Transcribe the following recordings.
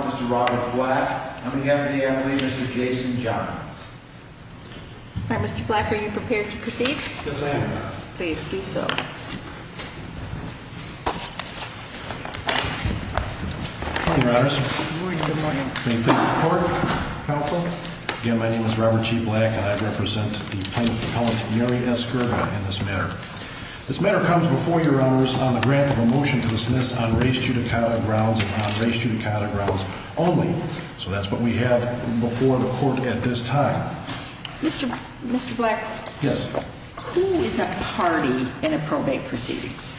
Mr. Robert Black, I'm going to go after the Emily, Mr. Jason Johns. All right, Mr. Black, are you prepared to proceed? Yes, I am. Good morning, Your Honors. Good morning. Good morning. Can you please report? Again, my name is Robert G. Black, and I represent the plaintiff's appellant, Mary Esker, in this matter. This matter comes before Your Honors on the grant of a motion to dismiss on race-judicata grounds and on race-judicata grounds only. So that's what we have before the Court at this time. Mr. Black? Yes. Who is a party in a probate proceedings?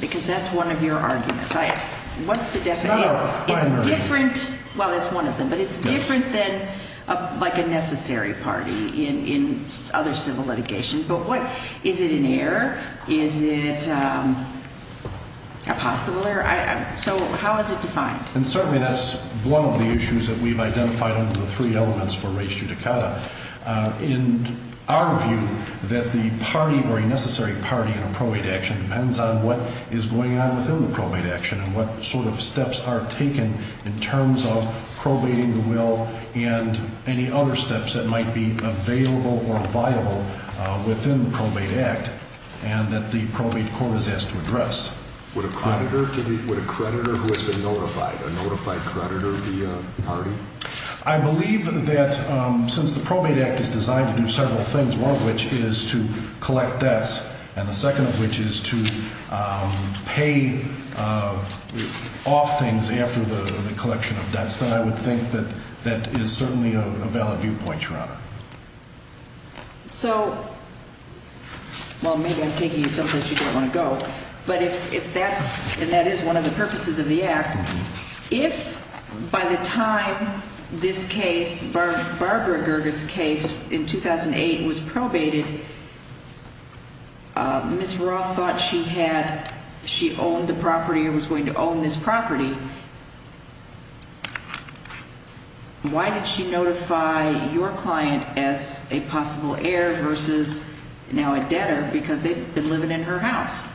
Because that's one of your arguments. It's not our primary argument. Well, it's one of them. But it's different than, like, a necessary party in other civil litigation. But is it an error? Is it a possible error? So how is it defined? And certainly that's one of the issues that we've identified under the three elements for race-judicata. In our view, that the party or a necessary party in a probate action depends on what is going on within the probate action and what sort of steps are taken in terms of probating the will and any other steps that might be available or viable within the probate act and that the probate court is asked to address. Would a creditor who has been notified, a notified creditor be a party? I believe that since the probate act is designed to do several things, one of which is to collect debts and the second of which is to pay off things after the collection of debts, then I would think that that is certainly a valid viewpoint, Your Honor. So, well, maybe I'm taking you someplace you don't want to go, but if that's and that is one of the purposes of the act, if by the time this case, Barbara Gerge's case in 2008 was probated, Ms. Roth thought she had, she owned the property or was going to own this property, why did she notify your client as a possible heir versus now a debtor because they've been living in her house?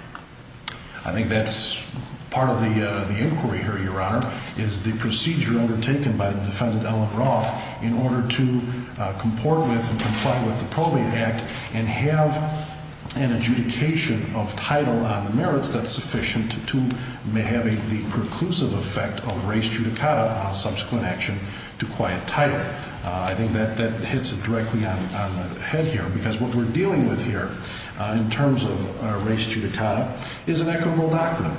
I think that's part of the inquiry here, Your Honor, is the procedure undertaken by the defendant Ellen Roth in order to comport with and comply with the probate act and have an adjudication of title on the merits that's sufficient to have the preclusive effect of res judicata on subsequent action to quiet title. I think that hits it directly on the head here because what we're dealing with here in terms of res judicata is an equitable document.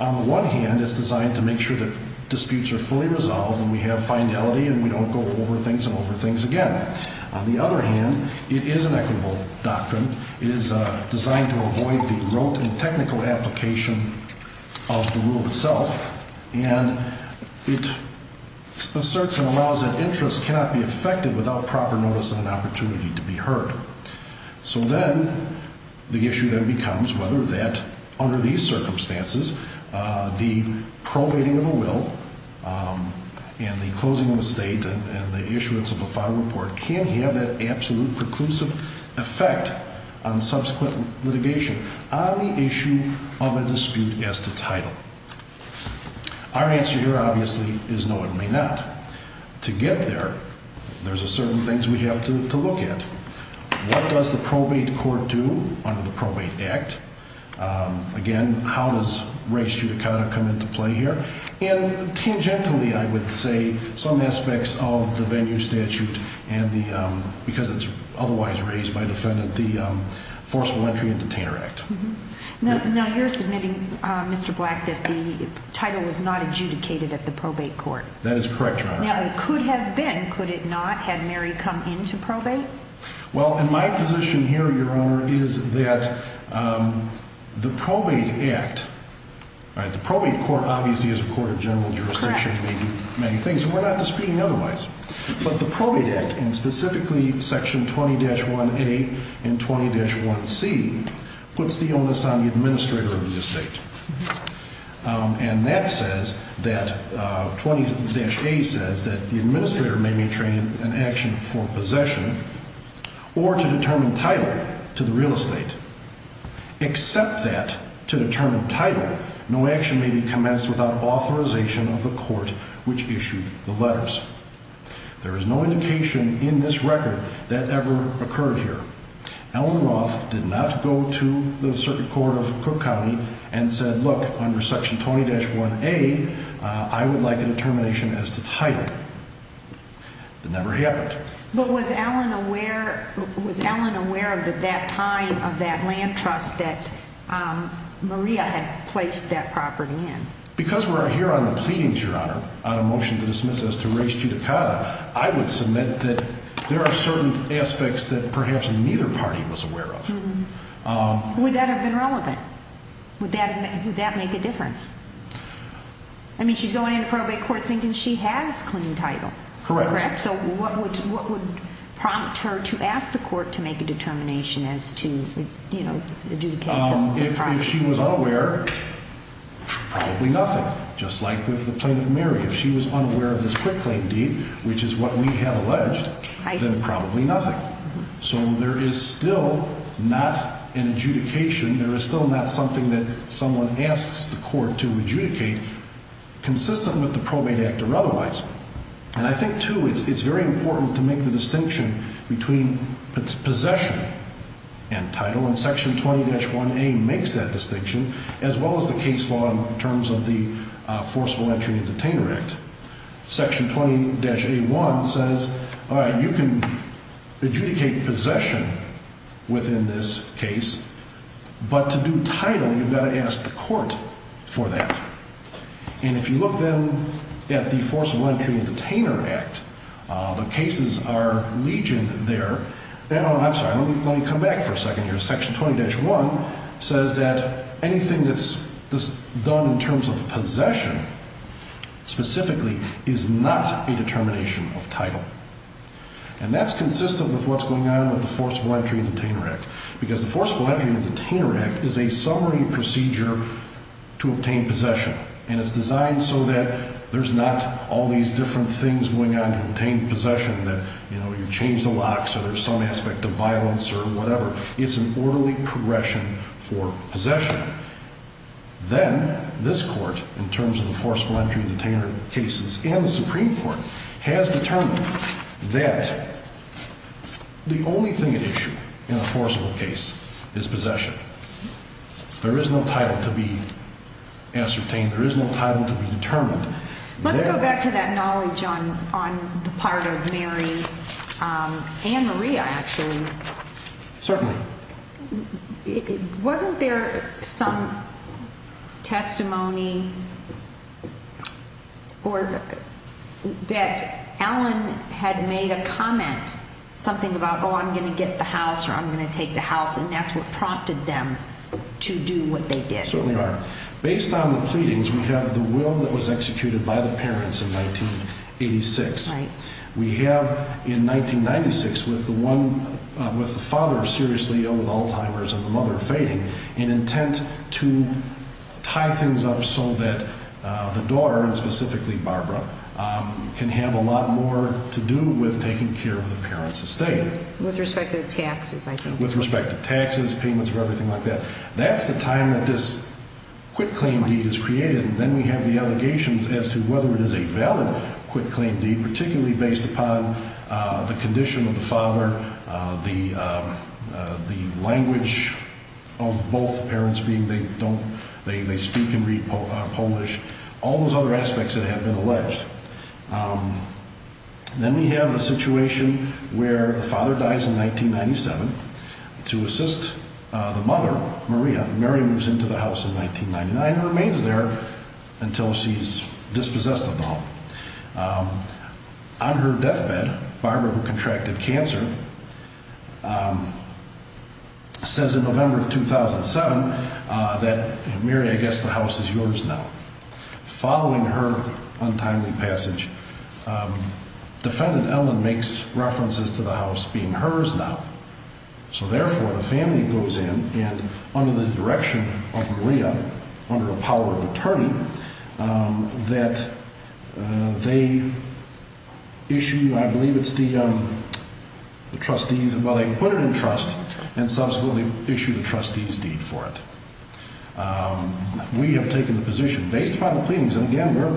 On the one hand, it's designed to make sure that disputes are fully resolved and we have finality and we don't go over things and over things again. On the other hand, it is an equitable doctrine. It is designed to avoid the rote and technical application of the rule itself, and it asserts and allows that interest cannot be affected without proper notice and an opportunity to be heard. So then the issue then becomes whether that, under these circumstances, the probating of a will and the closing of a state and the issuance of a file report can have that absolute preclusive effect on subsequent litigation on the issue of a dispute as to title. Our answer here obviously is no, it may not. To get there, there's certain things we have to look at. What does the probate court do under the Probate Act? Again, how does res judicata come into play here? And tangentially, I would say some aspects of the venue statute because it's otherwise raised by defendant, the Forcible Entry and Detainer Act. Now you're submitting, Mr. Black, that the title was not adjudicated at the probate court. That is correct, Your Honor. Now it could have been, could it not, had Mary come into probate? Well, in my position here, Your Honor, is that the Probate Act, the probate court obviously is a court of general jurisdiction. It may do many things, and we're not disputing otherwise. But the Probate Act, and specifically Section 20-1A and 20-1C, puts the onus on the administrator of the state. And that says that, 20-A says, that the administrator may be trained in action for possession or to determine title to the real estate. Except that, to determine title, no action may be commenced without authorization of the court which issued the letters. There is no indication in this record that ever occurred here. Ellen Roth did not go to the Circuit Court of Cook County and said, look, under Section 20-1A, I would like a determination as to title. That never happened. But was Ellen aware, was Ellen aware at that time of that land trust that Maria had placed that property in? Because we're here on the pleadings, Your Honor, on a motion to dismiss as to res judicata, I would submit that there are certain aspects that perhaps neither party was aware of. Would that have been relevant? Would that make a difference? I mean, she's going into probate court thinking she has claim title, correct? Correct. So what would prompt her to ask the court to make a determination as to, you know, the judicata? If she was unaware, probably nothing. Just like with the plaintiff, Mary. If she was unaware of this quick claim deed, which is what we have alleged, then probably nothing. So there is still not an adjudication, there is still not something that someone asks the court to adjudicate consistent with the probate act or otherwise. And I think, too, it's very important to make the distinction between possession and title, and Section 20-1A makes that distinction, as well as the case law in terms of the Forceful Entry and Detainer Act. Section 20-A1 says, all right, you can adjudicate possession within this case, but to do title, you've got to ask the court for that. And if you look then at the Forceful Entry and Detainer Act, the cases are legion there. I'm sorry, let me come back for a second here. Section 20-1 says that anything that's done in terms of possession, specifically, is not a determination of title. And that's consistent with what's going on with the Forceful Entry and Detainer Act, because the Forceful Entry and Detainer Act is a summary procedure to obtain possession, and it's designed so that there's not all these different things going on to obtain possession, that you change the locks or there's some aspect of violence or whatever. It's an orderly progression for possession. Then this court, in terms of the Forceful Entry and Detainer cases, and the Supreme Court has determined that the only thing at issue in a forcible case is possession. There is no title to be ascertained. There is no title to be determined. Let's go back to that knowledge on the part of Mary and Maria, actually. Certainly. Wasn't there some testimony that Ellen had made a comment, something about, oh, I'm going to get the house or I'm going to take the house, and that's what prompted them to do what they did? Certainly are. Based on the pleadings, we have the will that was executed by the parents in 1986. We have, in 1996, with the father seriously ill with Alzheimer's and the mother fading, an intent to tie things up so that the daughter, and specifically Barbara, can have a lot more to do with taking care of the parents' estate. With respect to taxes, I think. With respect to taxes, payments, or everything like that. That's the time that this quitclaim deed is created, and then we have the allegations as to whether it is a valid quitclaim deed, particularly based upon the condition of the father, the language of both parents being they speak and read Polish, all those other aspects that have been alleged. Then we have the situation where the father dies in 1997. To assist the mother, Maria, Mary moves into the house in 1999 and remains there until she's dispossessed of the home. On her deathbed, Barbara, who contracted cancer, says in November of 2007 that, Mary, I guess the house is yours now. Following her untimely passage, defendant Ellen makes references to the house being hers now, so therefore the family goes in, and under the direction of Maria, under the power of attorney, that they issue, I believe it's the trustees, well, they put it in trust and subsequently issue the trustees' deed for it. We have taken the position, based upon the pleadings, and again, we're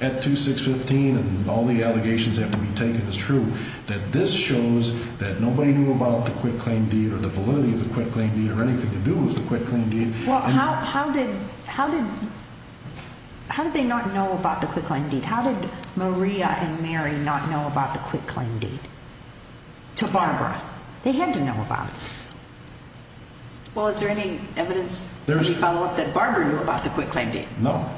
at 2615 and all the allegations have to be taken as true, that this shows that nobody knew about the quitclaim deed or the validity of the quitclaim deed or anything to do with the quitclaim deed. Well, how did they not know about the quitclaim deed? How did Maria and Mary not know about the quitclaim deed to Barbara? They had to know about it. Well, is there any evidence to follow up that Barbara knew about the quitclaim deed? No.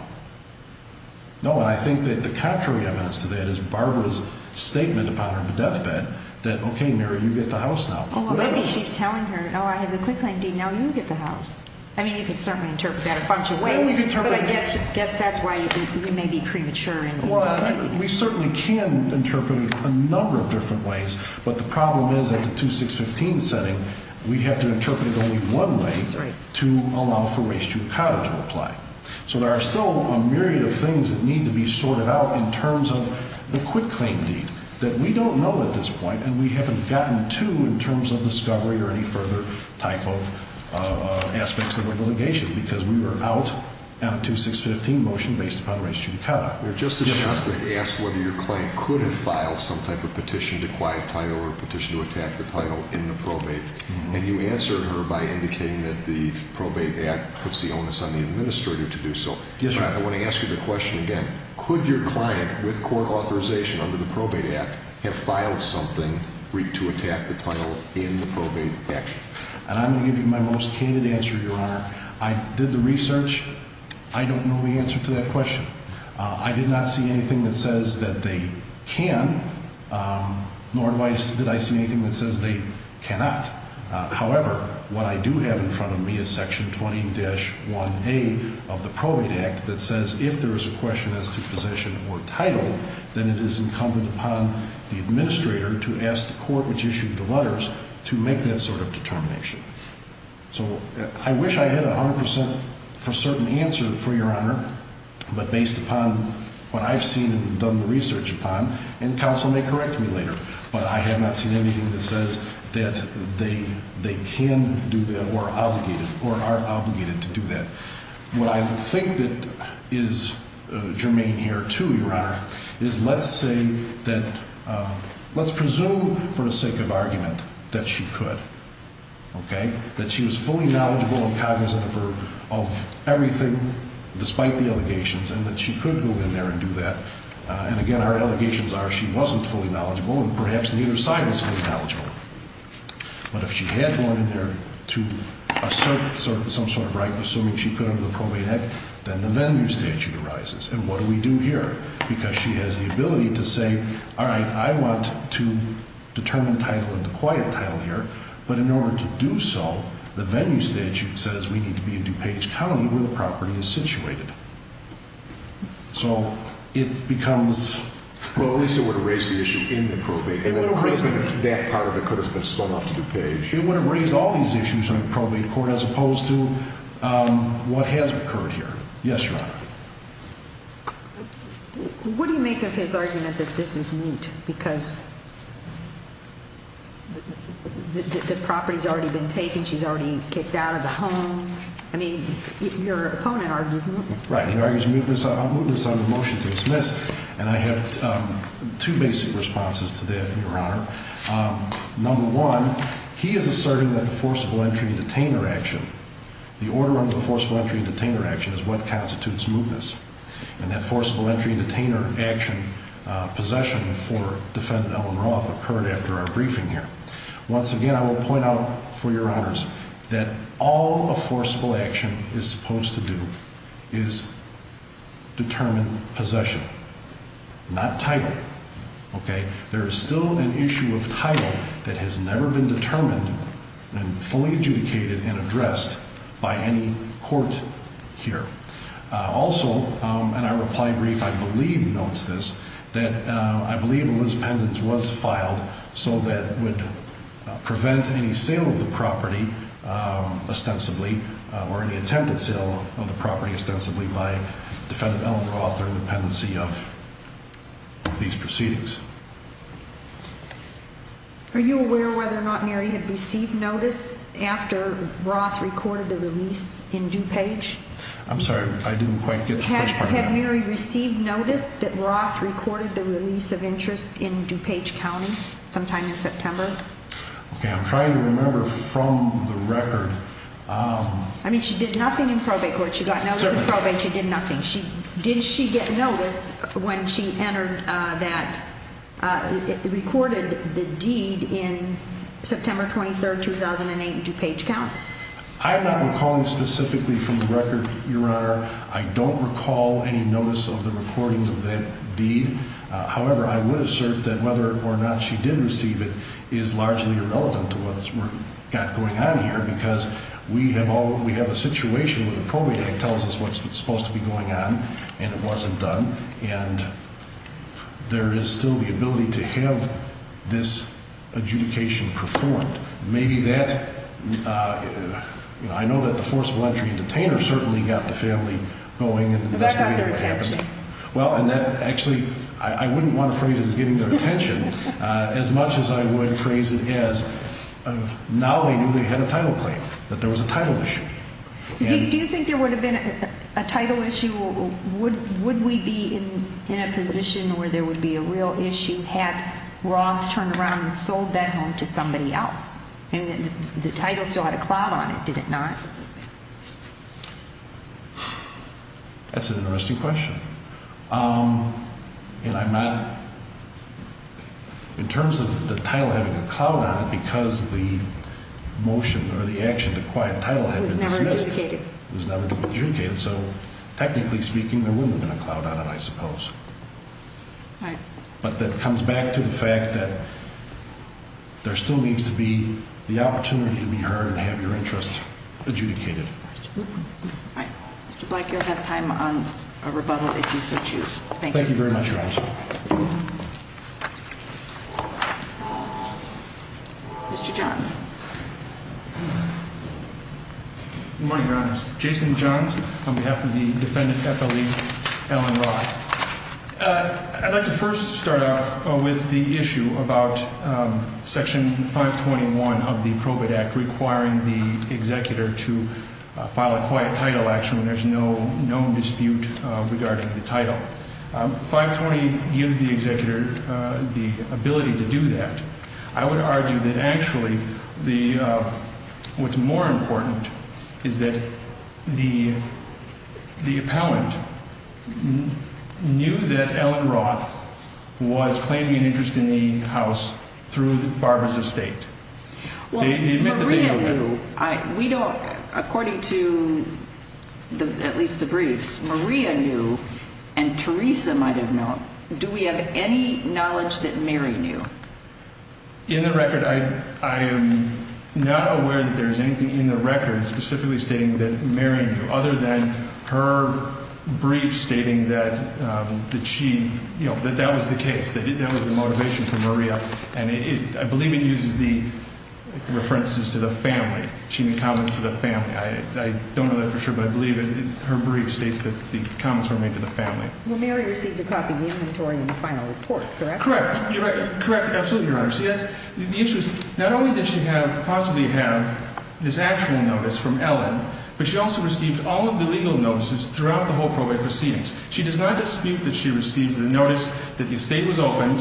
No, and I think that the contrary evidence to that is Barbara's statement about her in the deathbed that, okay, Mary, you get the house now. Well, maybe she's telling her, oh, I have the quitclaim deed, now you get the house. I mean, you could certainly interpret that a bunch of ways. I guess that's why you may be premature and indecisive. Well, we certainly can interpret it a number of different ways, but the problem is at the 2615 setting, we have to interpret it only one way to allow for restructuring to apply. So there are still a myriad of things that need to be sorted out in terms of the quitclaim deed that we don't know at this point and we haven't gotten to in terms of discovery or any further type of aspects of the litigation because we were out on a 2615 motion based upon race judicata. Justice Shostak asked whether your client could have filed some type of petition to quiet title or petition to attack the title in the probate, and you answered her by indicating that the probate act puts the onus on the administrator to do so. Yes, Your Honor. I want to ask you the question again. Could your client, with court authorization under the probate act, have filed something to attack the title in the probate action? And I'm going to give you my most candid answer, Your Honor. I did the research. I don't know the answer to that question. I did not see anything that says that they can, nor did I see anything that says they cannot. However, what I do have in front of me is section 20-1A of the probate act that says if there is a question as to position or title, then it is incumbent upon the administrator to ask the court which issued the letters to make that sort of determination. So I wish I had a 100% for certain answer, for Your Honor, but based upon what I've seen and done the research upon and counsel may correct me later, but I have not seen anything that says that they can do that or are obligated to do that. What I think that is germane here, too, Your Honor, is let's say that let's presume for the sake of argument that she could, okay, that she was fully knowledgeable and cognizant of everything despite the allegations and that she could go in there and do that. And, again, our allegations are she wasn't fully knowledgeable and perhaps neither side was fully knowledgeable. But if she had gone in there to assert some sort of right, assuming she could under the probate act, then the venue statute arises. And what do we do here? Because she has the ability to say, all right, I want to determine the title of the quiet title here, but in order to do so, the venue statute says we need to be in DuPage County where the property is situated. So it becomes... Well, at least it would have raised the issue in the probate. It would have raised it. That part of it could have been spun off to DuPage. It would have raised all these issues on the probate court as opposed to what has occurred here. Yes, Your Honor. What do you make of his argument that this is moot because the property's already been taken, she's already kicked out of the home? I mean, your opponent argues mootness. Right, he argues mootness on the motion to dismiss. And I have two basic responses to that, Your Honor. Number one, he is asserting that the forcible entry and detainer action, the order under the forcible entry and detainer action is what constitutes mootness. And that forcible entry and detainer action possession for defendant Ellen Roth occurred after our briefing here. Once again, I will point out for your honors that all a forcible action is supposed to do is determine possession, not title. Okay? There is still an issue of title that has never been determined and fully adjudicated and addressed by any court here. Also, in our reply brief, I believe notes this, that I believe Elizabeth Pendens was filed so that would prevent any sale of the property ostensibly or any attempted sale of the property ostensibly by defendant Ellen Roth or the pendency of these proceedings. Are you aware whether or not Mary had received notice after Roth recorded the release in DuPage? I'm sorry, I didn't quite get the first part of that. Did you have Mary receive notice that Roth recorded the release of interest in DuPage County sometime in September? Okay, I'm trying to remember from the record. I mean, she did nothing in probate court. She got notice in probate. She did nothing. Did she get notice when she entered that, recorded the deed in September 23, 2008 in DuPage County? I am not recalling specifically from the record, Your Honor. I don't recall any notice of the recording of that deed. However, I would assert that whether or not she did receive it is largely irrelevant to what's got going on here because we have a situation where the probate act tells us what's supposed to be going on and it wasn't done, and there is still the ability to have this adjudication performed. Maybe that's, you know, I know that the forcible entry and detainer certainly got the family going and investigated what happened. But that got their attention. Well, and that actually, I wouldn't want to phrase it as getting their attention as much as I would phrase it as now they knew they had a title claim, that there was a title issue. Do you think there would have been a title issue? Would we be in a position where there would be a real issue had Roth turned around and sold that home to somebody else? I mean, the title still had a cloud on it, did it not? That's an interesting question. And I'm not, in terms of the title having a cloud on it because the motion or the action to acquire the title had been dismissed. It was never adjudicated. So technically speaking, there wouldn't have been a cloud on it, I suppose. Right. But that comes back to the fact that there still needs to be the opportunity to be heard and have your interest adjudicated. All right. Mr. Black, you'll have time on a rebuttal if you so choose. Thank you. Thank you very much, Your Honor. Mr. Johns. Good morning, Your Honor. Jason Johns on behalf of the defendant FLE, Alan Roth. I'd like to first start out with the issue about Section 521 of the Probate Act requiring the executor to file a quiet title action when there's no known dispute regarding the title. 520 gives the executor the ability to do that. I would argue that actually what's more important is that the appellant knew that Alan Roth was claiming an interest in the house through Barbara's estate. Well, Maria knew. We don't, according to at least the briefs, Maria knew and Teresa might have known. Do we have any knowledge that Mary knew? In the record, I am not aware that there's anything in the record specifically stating that Mary knew, other than her brief stating that she, you know, that that was the case, that that was the motivation for Maria. And I believe it uses the references to the family, she made comments to the family. I don't know that for sure, but I believe her brief states that the comments were made to the family. Well, Mary received a copy of the inventory in the final report, correct? Correct. You're right. Correct. Absolutely, Your Honor. See, the issue is not only did she have, possibly have, this actual notice from Alan, but she also received all of the legal notices throughout the whole probate proceedings. She does not dispute that she received the notice that the estate was opened,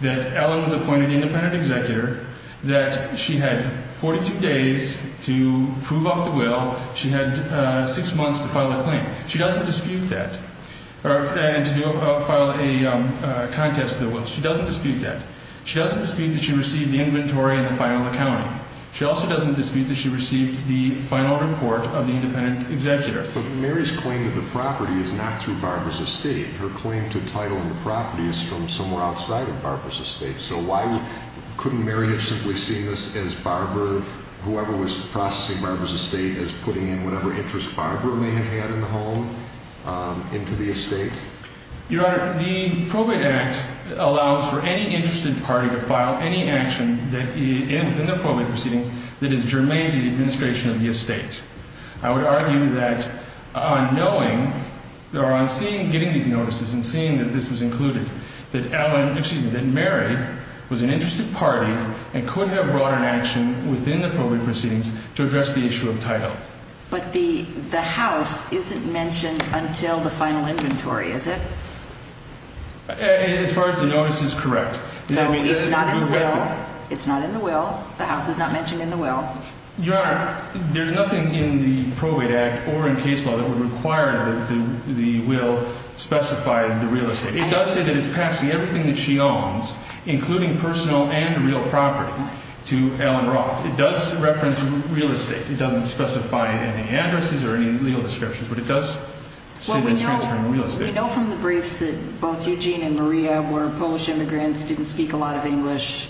that Alan was appointed independent executor, that she had 42 days to prove out the will, she had six months to file a claim. She doesn't dispute that, or to file a contest to the will. She doesn't dispute that. She doesn't dispute that she received the inventory in the final accounting. She also doesn't dispute that she received the final report of the independent executor. But Mary's claim to the property is not through Barbara's estate. Her claim to title of the property is from somewhere outside of Barbara's estate. So why couldn't Mary have simply seen this as Barbara, whoever was processing Barbara's estate, as putting in whatever interest Barbara may have had in the home into the estate? Your Honor, the Probate Act allows for any interested party to file any action within the probate proceedings that is germane to the administration of the estate. I would argue that on knowing, or on seeing, getting these notices and seeing that this was included, that Mary was an interested party and could have brought an action within the probate proceedings to address the issue of title. But the house isn't mentioned until the final inventory, is it? As far as the notice is correct. So it's not in the will. It's not in the will. The house is not mentioned in the will. Your Honor, there's nothing in the Probate Act or in case law that would require that the will specify the real estate. It does say that it's passing everything that she owns, including personal and real property, to Ellen Roth. It does reference real estate. It doesn't specify any addresses or any legal descriptions, but it does say that it's transferring real estate. Well, we know from the briefs that both Eugene and Maria were Polish immigrants, didn't speak a lot of English,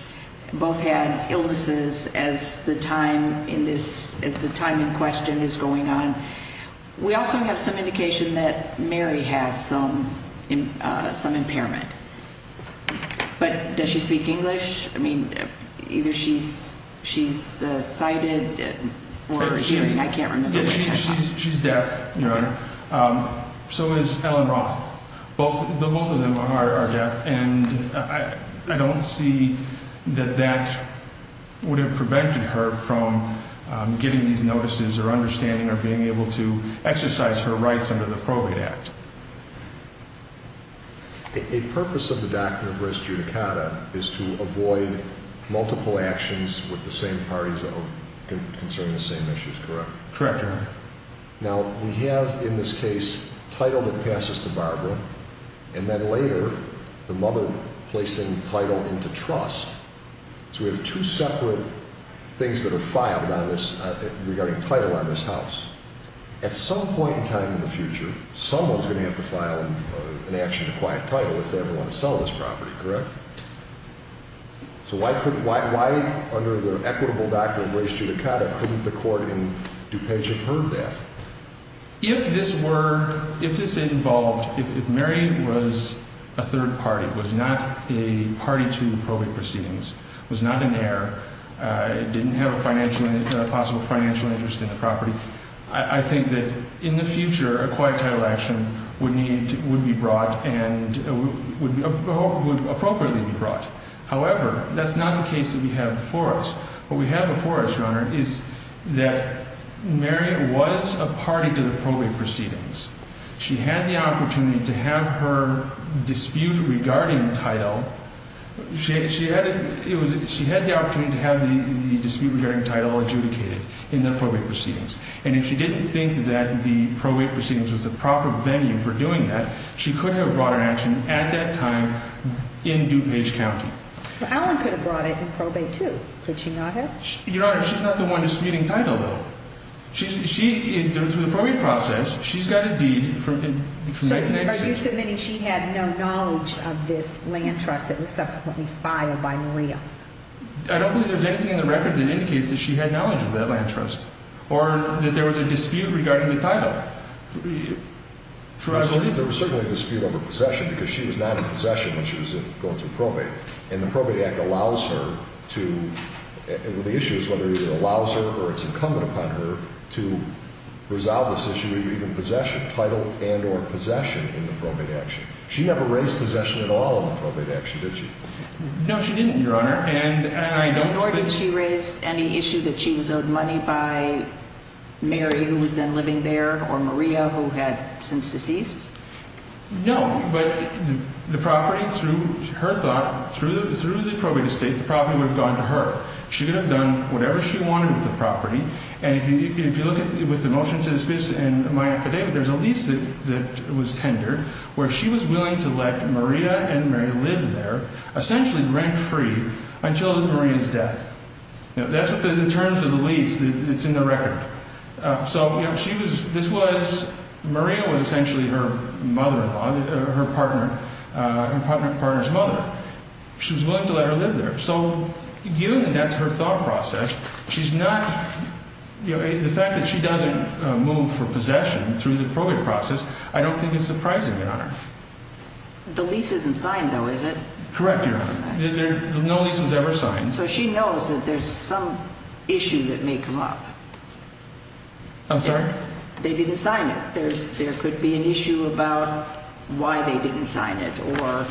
both had illnesses as the time in question is going on. We also have some indication that Mary has some impairment. But does she speak English? I mean, either she's sighted or hearing. I can't remember. She's deaf, Your Honor. So is Ellen Roth. Both of them are deaf. And I don't see that that would have prevented her from getting these notices or understanding or being able to exercise her rights under the Probate Act. A purpose of the Doctrine of Res Judicata is to avoid multiple actions with the same parties that concern the same issues, correct? Correct, Your Honor. Now, we have in this case title that passes to Barbara and then later the mother placing title into trust. So we have two separate things that are filed regarding title on this house. At some point in time in the future, someone's going to have to file an action to quiet title if they ever want to sell this property, correct? So why under the equitable Doctrine of Res Judicata couldn't the court in DuPage have heard that? If this were, if this involved, if Mary was a third party, was not a party to probate proceedings, was not an heir, didn't have a possible financial interest in the property, I think that in the future a quiet title action would be brought and would appropriately be brought. However, that's not the case that we have before us. What we have before us, Your Honor, is that Mary was a party to the probate proceedings. She had the opportunity to have her dispute regarding title. She had the opportunity to have the dispute regarding title adjudicated in the probate proceedings. And if she didn't think that the probate proceedings was the proper venue for doing that, she could have brought her action at that time in DuPage County. Well, Alan could have brought it in probate too, could she not have? Your Honor, she's not the one disputing title though. She, through the probate process, she's got a deed from 1996. Are you submitting she had no knowledge of this land trust that was subsequently filed by Maria? I don't believe there's anything in the record that indicates that she had knowledge of that land trust or that there was a dispute regarding the title. There was certainly a dispute over possession because she was not in possession when she was going through probate. And the probate act allows her to, the issue is whether it allows her or it's incumbent upon her to resolve this issue of either possession, title, and or possession in the probate action. She never raised possession at all in the probate action, did she? No, she didn't, Your Honor. And I don't expect... Nor did she raise any issue that she was owed money by Mary, who was then living there, or Maria, who had since deceased? No, but the property, through her thought, through the probate estate, the property would have gone to her. She could have done whatever she wanted with the property. And if you look at, with the motion to dismiss and my affidavit, there's a lease that was tendered where she was willing to let Maria and Mary live there, essentially rent-free, until Maria's death. That's what the terms of the lease, it's in the record. So, you know, she was, this was, Maria was essentially her mother-in-law, her partner, her partner's mother. She was willing to let her live there. So, given that that's her thought process, she's not, you know, the fact that she doesn't move for possession through the probate process, I don't think it's surprising, Your Honor. The lease isn't signed, though, is it? Correct, Your Honor. No lease was ever signed. So she knows that there's some issue that may come up. I'm sorry? They didn't sign it. There could be an issue about why they didn't sign it or...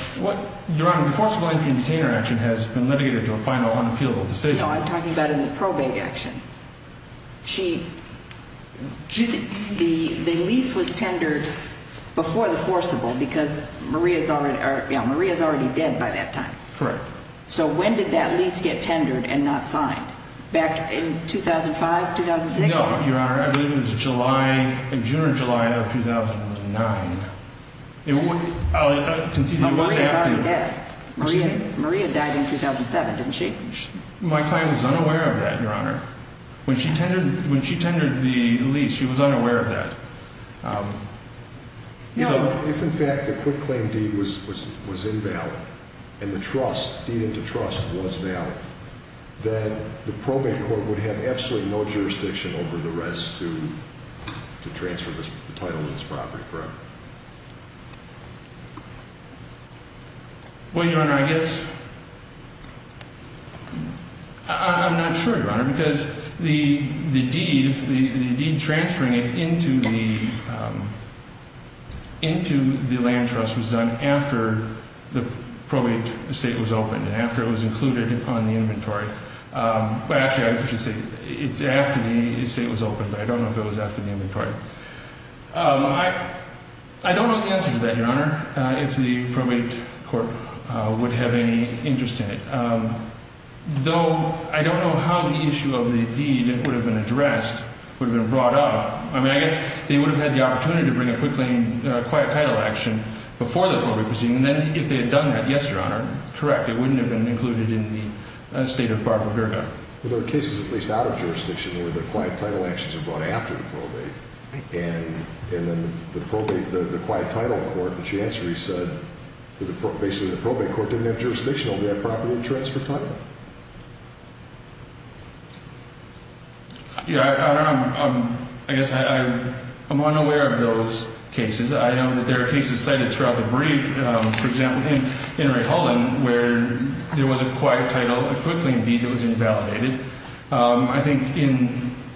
Your Honor, the forcible entry and detainer action has been litigated to a final unappealable decision. No, I'm talking about in the probate action. The lease was tendered before the forcible because Maria's already dead by that time. Correct. So when did that lease get tendered and not signed? Back in 2005, 2006? No, Your Honor, I believe it was July, in June or July of 2009. I'll concede that it was after... Maria's already dead. Maria died in 2007, didn't she? My client was unaware of that, Your Honor. When she tendered the lease, she was unaware of that. If, in fact, the quick claim deed was invalid and the trust, deed into trust, was valid, then the probate court would have absolutely no jurisdiction over the rest to transfer the title of this property, correct? Well, Your Honor, I guess... I'm not sure, Your Honor, because the deed transferring it into the land trust was done after the probate estate was opened and after it was included on the inventory. Actually, I should say it's after the estate was opened, but I don't know if it was after the inventory. I don't know the answer to that, Your Honor, if the probate court would have any interest in it, though I don't know how the issue of the deed that would have been addressed would have been brought up. I mean, I guess they would have had the opportunity to bring a quick claim, a quiet title action before the probate proceeding, and then if they had done that, yes, Your Honor, correct, it wouldn't have been included in the estate of Barbara Virga. Well, there are cases, at least out of jurisdiction, where the quiet title actions are brought after the probate, and then the quiet title court, which you answered, you said, basically the probate court didn't have jurisdiction over that property to transfer title. Yeah, I don't know. I guess I'm unaware of those cases. I know that there are cases cited throughout the brief, for example, in Ray Holland, where there was a quiet title, a quick claim deed that was invalidated. I think in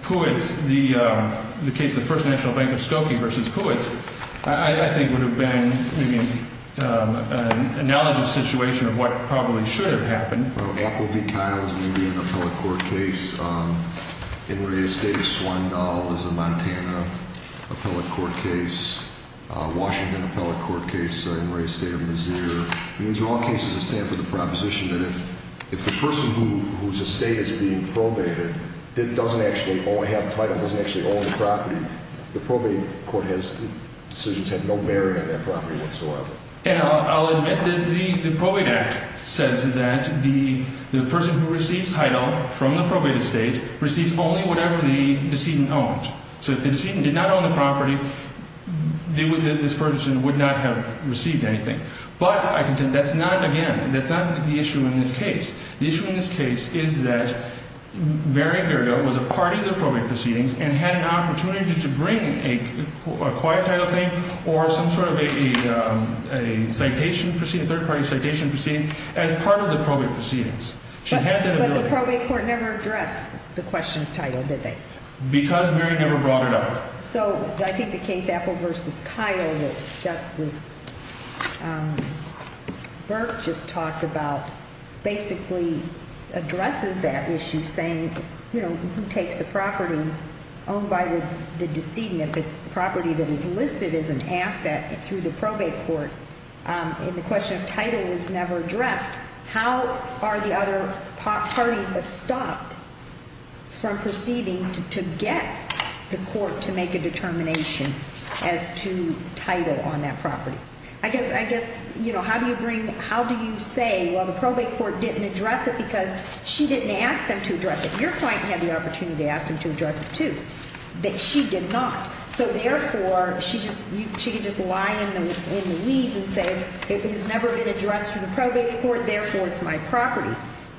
Puitz, the case of the First National Bank of Skokie v. Puitz, I think would have been maybe an analogous situation of what probably should have happened. Well, Apple v. Kyle is maybe an appellate court case. In Ray's state of Swindoll is a Montana appellate court case. Washington appellate court case, in Ray's state of Missouri. These are all cases that stand for the proposition that if the person whose estate is being probated doesn't actually have title, doesn't actually own the property, the probate court decisions have no bearing on that property whatsoever. And I'll admit that the Probate Act says that the person who receives title from the probated estate receives only whatever the decedent owns. So if the decedent did not own the property, this person would not have received anything. But that's not, again, that's not the issue in this case. The issue in this case is that Mary Gergo was a part of the probate proceedings and had an opportunity to bring a quiet title claim or some sort of a citation proceeding, third party citation proceeding, as part of the probate proceedings. But the probate court never addressed the question of title, did they? Because Mary never brought it up. So I think the case Apple v. Kyle that Justice Burke just talked about basically addresses that issue saying, you know, who takes the property owned by the decedent if it's property that is listed as an asset through the probate court? And the question of title is never addressed. How are the other parties stopped from proceeding to get the court to make a determination as to title on that property? I guess, you know, how do you bring, how do you say, well, the probate court didn't address it because she didn't ask them to address it. Your client had the opportunity to ask them to address it, too, but she did not. So therefore, she could just lie in the weeds and say it has never been addressed in the probate court, therefore it's my property.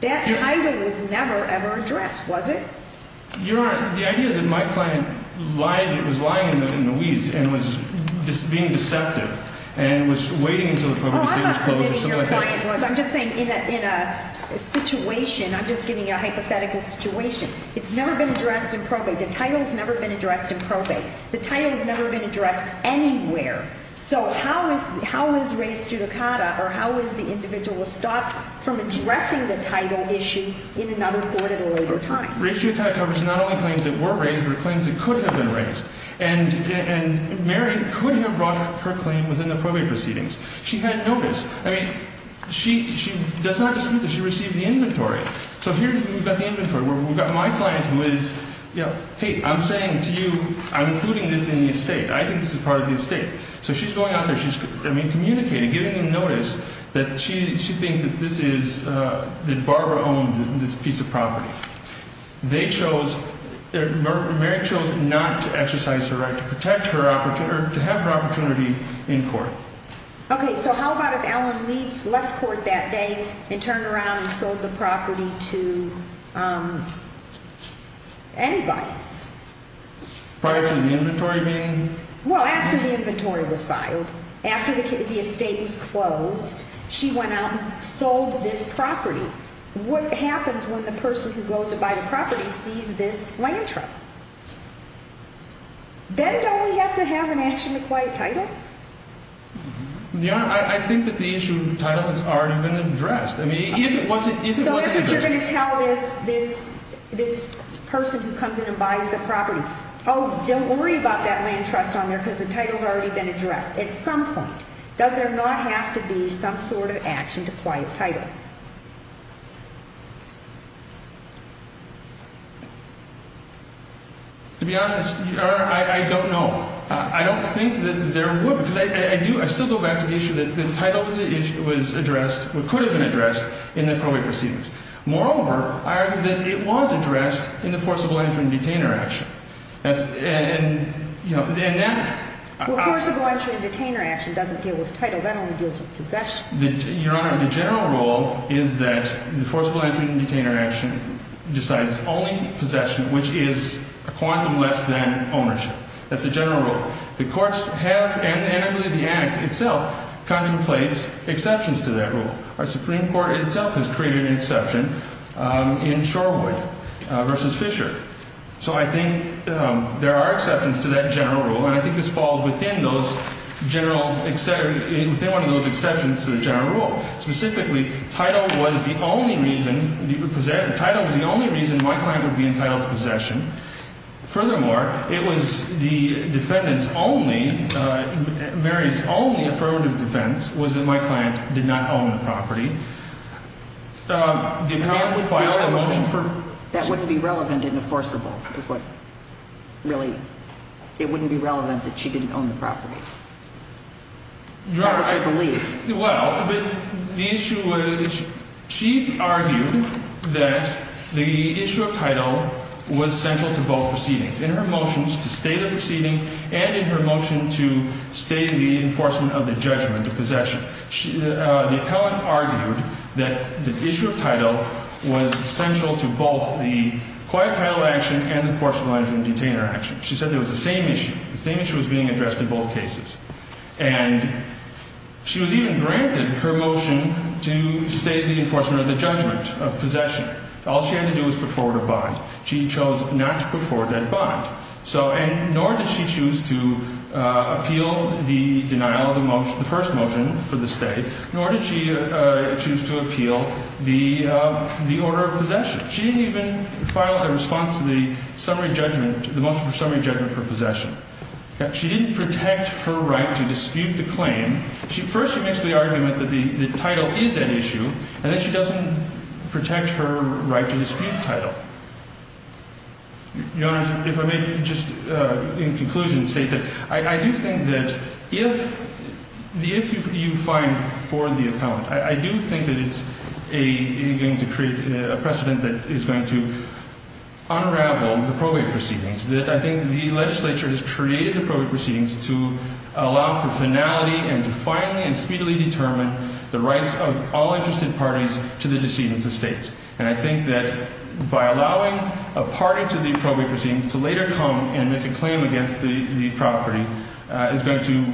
That title was never, ever addressed, was it? Your Honor, the idea that my client lied, was lying in the weeds and was being deceptive and was waiting until the probate state was closed or something like that. I'm not saying that your client was. I'm just saying in a situation, I'm just giving you a hypothetical situation. It's never been addressed in probate. The title has never been addressed in probate. The title has never been addressed anywhere. So how is Ray's judicata or how is the individual stopped from addressing the title issue in another court at a later time? Ray's judicata covers not only claims that were raised, but claims that could have been raised. And Mary could have brought her claim within the probate proceedings. She hadn't noticed. I mean, she does not dispute that she received the inventory. So here we've got the inventory. We've got my client who is, hey, I'm saying to you, I'm including this in the estate. I think this is part of the estate. So she's going out there. She's communicating, giving them notice that she thinks that this is, that Barbara owns this piece of property. They chose, Mary chose not to exercise her right to protect her, or to have her opportunity in court. Okay. So how about if Alan Leeds left court that day and turned around and sold the property to anybody? Prior to the inventory being? Well, after the inventory was filed, after the estate was closed, she went out and sold this property. What happens when the person who goes to buy the property sees this land trust? Then don't we have to have an action to quiet title? Your Honor, I think that the issue of title has already been addressed. I mean, if it wasn't addressed. So if you're going to tell this person who comes in and buys the property, oh, don't worry about that land trust on there because the title has already been addressed at some point. Does there not have to be some sort of action to quiet title? To be honest, Your Honor, I don't know. I don't think that there would, because I do, I still go back to the issue that the title was addressed, or could have been addressed in the probate proceedings. Moreover, I argue that it was addressed in the forcible entry and detainer action. And, you know, and that. Well, forcible entry and detainer action doesn't deal with title. That only deals with possession. Your Honor, the general rule is that the forcible entry and detainer action decides only possession, which is a quantum less than ownership. That's the general rule. The courts have, and I believe the Act itself, contemplates exceptions to that rule. Our Supreme Court itself has created an exception in Shorewood v. Fisher. So I think there are exceptions to that general rule, and I think this falls within those general, within one of those exceptions to the general rule. Specifically, title was the only reason, title was the only reason my client would be entitled to possession. Furthermore, it was the defendant's only, Mary's only affirmative defense was that my client did not own the property. Did not file a motion for. That wouldn't be relevant in a forcible is what really, it wouldn't be relevant that she didn't own the property. Your Honor. That was her belief. Well, but the issue was, she argued that the issue of title was central to both proceedings. In her motions to stay the proceeding, and in her motion to stay the enforcement of the judgment of possession, the appellant argued that the issue of title was central to both the quiet title action and the forcible entry and detainer action. She said it was the same issue. The same issue was being addressed in both cases. And she was even granted her motion to stay the enforcement of the judgment of possession. All she had to do was put forward a bond. She chose not to put forward that bond. So, and nor did she choose to appeal the denial of the first motion for the stay, nor did she choose to appeal the order of possession. She didn't even file a response to the summary judgment, the motion for summary judgment for possession. She didn't protect her right to dispute the claim. First, she makes the argument that the title is an issue, and then she doesn't protect her right to dispute the title. Your Honor, if I may just, in conclusion, state that I do think that if the issue you find for the appellant, I do think that it's a precedent that is going to unravel the probate proceedings, that I think the legislature has created the probate proceedings to allow for finality and to finally and speedily determine the rights of all interested parties to the decedents' estates. And I think that by allowing a party to the probate proceedings to later come and make a claim against the property is going to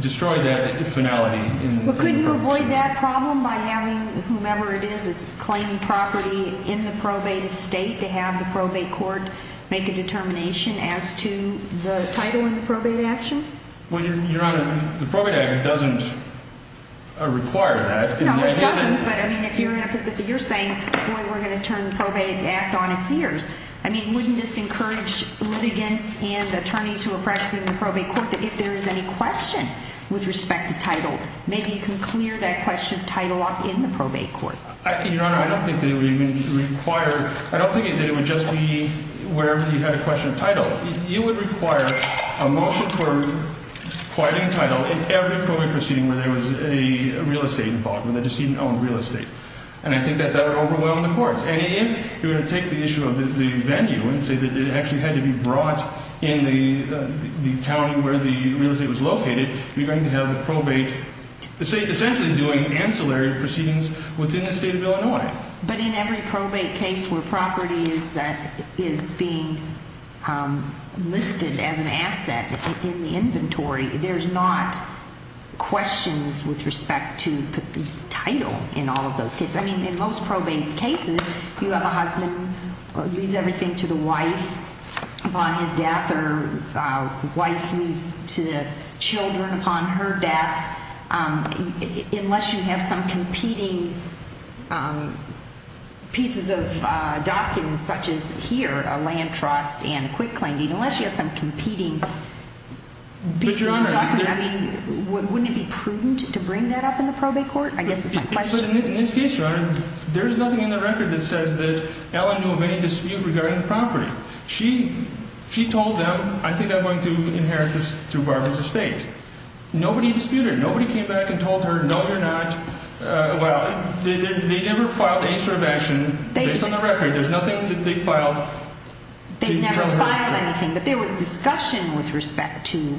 destroy that finality. Well, could you avoid that problem by having whomever it is that's claiming property in the probate estate to have the probate court make a determination as to the title in the probate action? Well, Your Honor, the probate act doesn't require that. No, it doesn't. But, I mean, if you're saying, boy, we're going to turn the probate act on its ears. I mean, wouldn't this encourage litigants and attorneys who are practicing in the probate court that if there is any question with respect to title, maybe you can clear that question of title off in the probate court. Your Honor, I don't think that it would even require, I don't think that it would just be wherever you had a question of title. It would require a motion for quieting title in every probate proceeding where there was a real estate involved, where the decedent owned real estate. And I think that that would overwhelm the courts. And if you're going to take the issue of the venue and say that it actually had to be brought in the county where the real estate was located, you're going to have the probate estate essentially doing ancillary proceedings within the state of Illinois. But in every probate case where property is being listed as an asset in the inventory, there's not questions with respect to title in all of those cases. I mean, in most probate cases, you have a husband who leaves everything to the wife upon his death or a wife leaves to the children upon her death. Unless you have some competing pieces of documents such as here, a land trust and a quick landing, unless you have some competing pieces of documents, I mean, wouldn't it be prudent to bring that up in the probate court? I guess that's my question. But in this case, Your Honor, there's nothing in the record that says that Ellen knew of any dispute regarding the property. She told them, I think I'm going to inherit this through Barbara's estate. Nobody disputed it. Nobody came back and told her, no, you're not. Well, they never filed any sort of action based on the record. There's nothing that they filed. They never filed anything. But there was discussion with respect to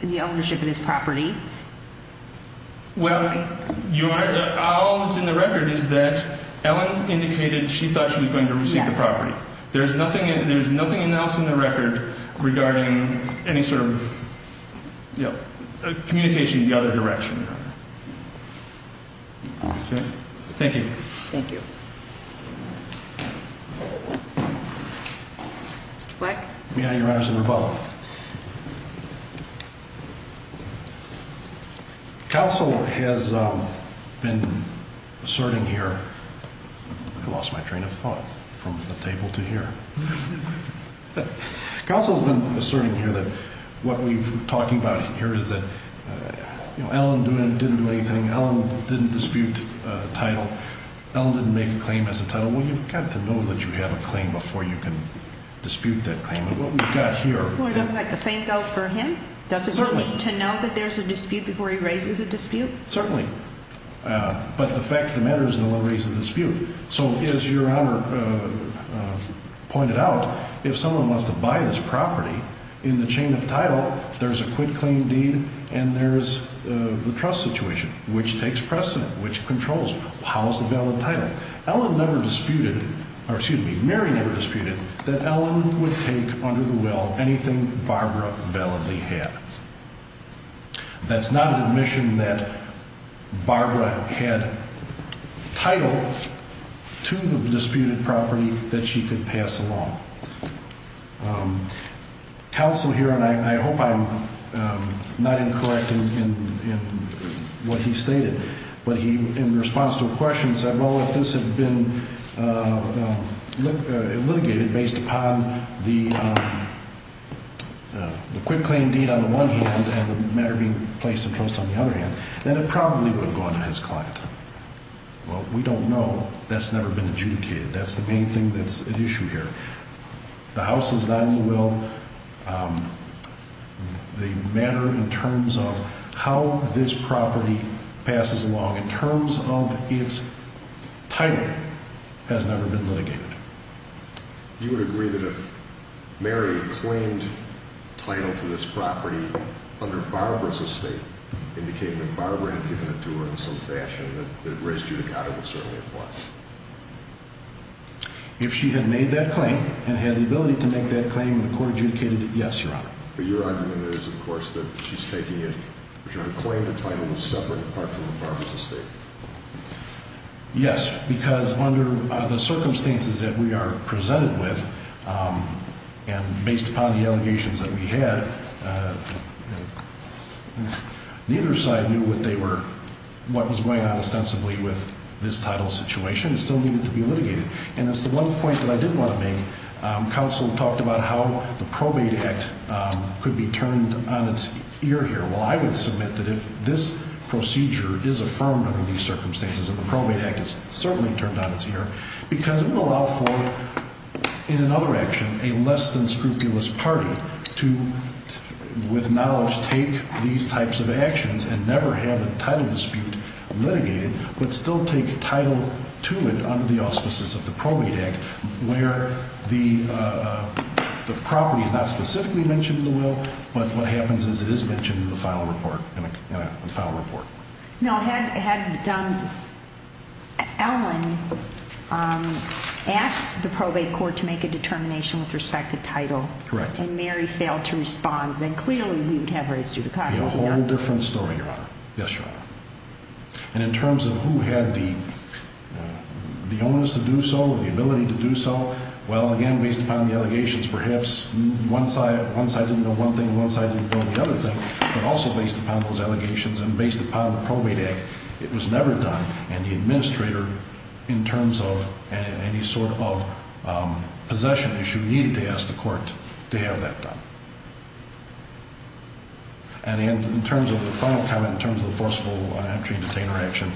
the ownership of this property. Well, Your Honor, all that's in the record is that Ellen indicated she thought she was going to receive the property. There's nothing else in the record regarding any sort of communication in the other direction. Okay. Thank you. Thank you. Mr. Black? May I, Your Honors, interrupt? Counsel has been asserting here. I lost my train of thought from the table to here. Counsel has been asserting here that what we're talking about here is that, you know, Ellen didn't do anything. Ellen didn't dispute a title. Ellen didn't make a claim as a title. Well, you've got to know that you have a claim before you can dispute that claim. And what we've got here — Well, doesn't that make the same doubt for him? Does it mean to know that there's a dispute before he raises a dispute? Certainly. But the fact of the matter is no one raised a dispute. So, as Your Honor pointed out, if someone wants to buy this property, in the chain of title, there's a quit-claim deed, and there's the trust situation, which takes precedent, which controls how is the valid title. Ellen never disputed — or, excuse me, Mary never disputed that Ellen would take under the will anything Barbara validly had. That's not an admission that Barbara had title to the disputed property that she could pass along. Counsel here, and I hope I'm not incorrect in what he stated, but he, in response to a question, said, well, if this had been litigated based upon the quit-claim deed on the one hand and the matter being placed in trust on the other hand, then it probably would have gone to his client. Well, we don't know. That's never been adjudicated. That's the main thing that's at issue here. The house is not in the will. The matter in terms of how this property passes along, in terms of its title, has never been litigated. You would agree that if Mary claimed title to this property under Barbara's estate, indicating that Barbara had given it to her in some fashion, that it raised judicata, well, certainly it was. If she had made that claim and had the ability to make that claim and the court adjudicated it, yes, Your Honor. But your argument is, of course, that she's taking it — her claim to title is separate apart from Barbara's estate. Yes, because under the circumstances that we are presented with and based upon the allegations that we had, neither side knew what they were — what was going on ostensibly with this title situation. It still needed to be litigated. And that's the one point that I did want to make. Counsel talked about how the probate act could be turned on its ear here. Well, I would submit that if this procedure is affirmed under these circumstances, that the probate act is certainly turned on its ear because it would allow for, in another action, a less-than-scrupulous party to, with knowledge, take these types of actions and never have the title dispute litigated, but still take title to it under the auspices of the probate act, where the property is not specifically mentioned in the will, but what happens is it is mentioned in the final report, in a final report. Now, had Don Allen asked the probate court to make a determination with respect to title — Correct. — and Mary failed to respond, then clearly we would have raised you to copy. A whole different story, Your Honor. Yes, Your Honor. And in terms of who had the onus to do so or the ability to do so, well, again, based upon the allegations, perhaps one side didn't know one thing and one side didn't know the other thing, but also based upon those allegations and based upon the probate act, it was never done. And the administrator, in terms of any sort of possession issue, needed to ask the court to have that done. And in terms of the final comment, in terms of the forcible entry and detainer action,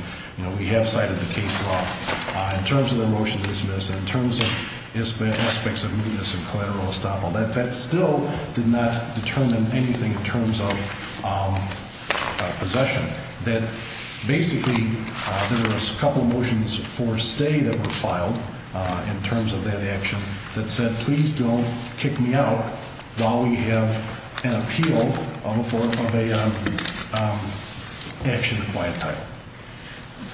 we have cited the case law. In terms of the motion to dismiss and in terms of aspects of mootness and collateral estoppel, that still did not determine anything in terms of possession. Basically, there were a couple of motions for stay that were filed in terms of that action that said, please don't kick me out while we have an appeal for a action acquired title.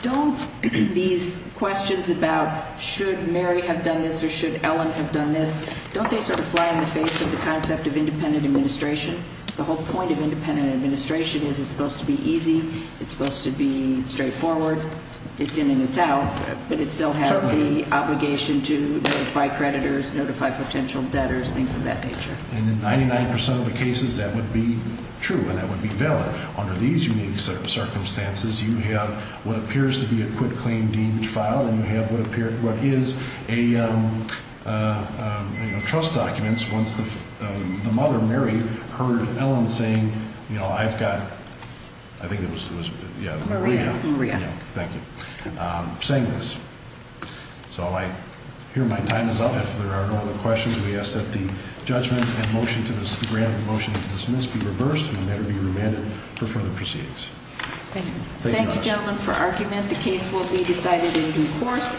Don't these questions about should Mary have done this or should Ellen have done this, don't they sort of fly in the face of the concept of independent administration? The whole point of independent administration is it's supposed to be easy, it's supposed to be straightforward, it's in and it's out, but it still has the obligation to notify creditors, notify potential debtors, things of that nature. And in 99% of the cases, that would be true and that would be valid. Under these unique circumstances, you have what appears to be a quit claim deemed filed and you have what is a trust documents once the mother, Mary, heard Ellen saying, I've got, I think it was Maria, thank you, saying this. So I hear my time is up. If there are no other questions, we ask that the judgment and motion to dismiss be reversed and the matter be remanded for further proceedings. Thank you, gentlemen, for argument. The case will be decided in due course.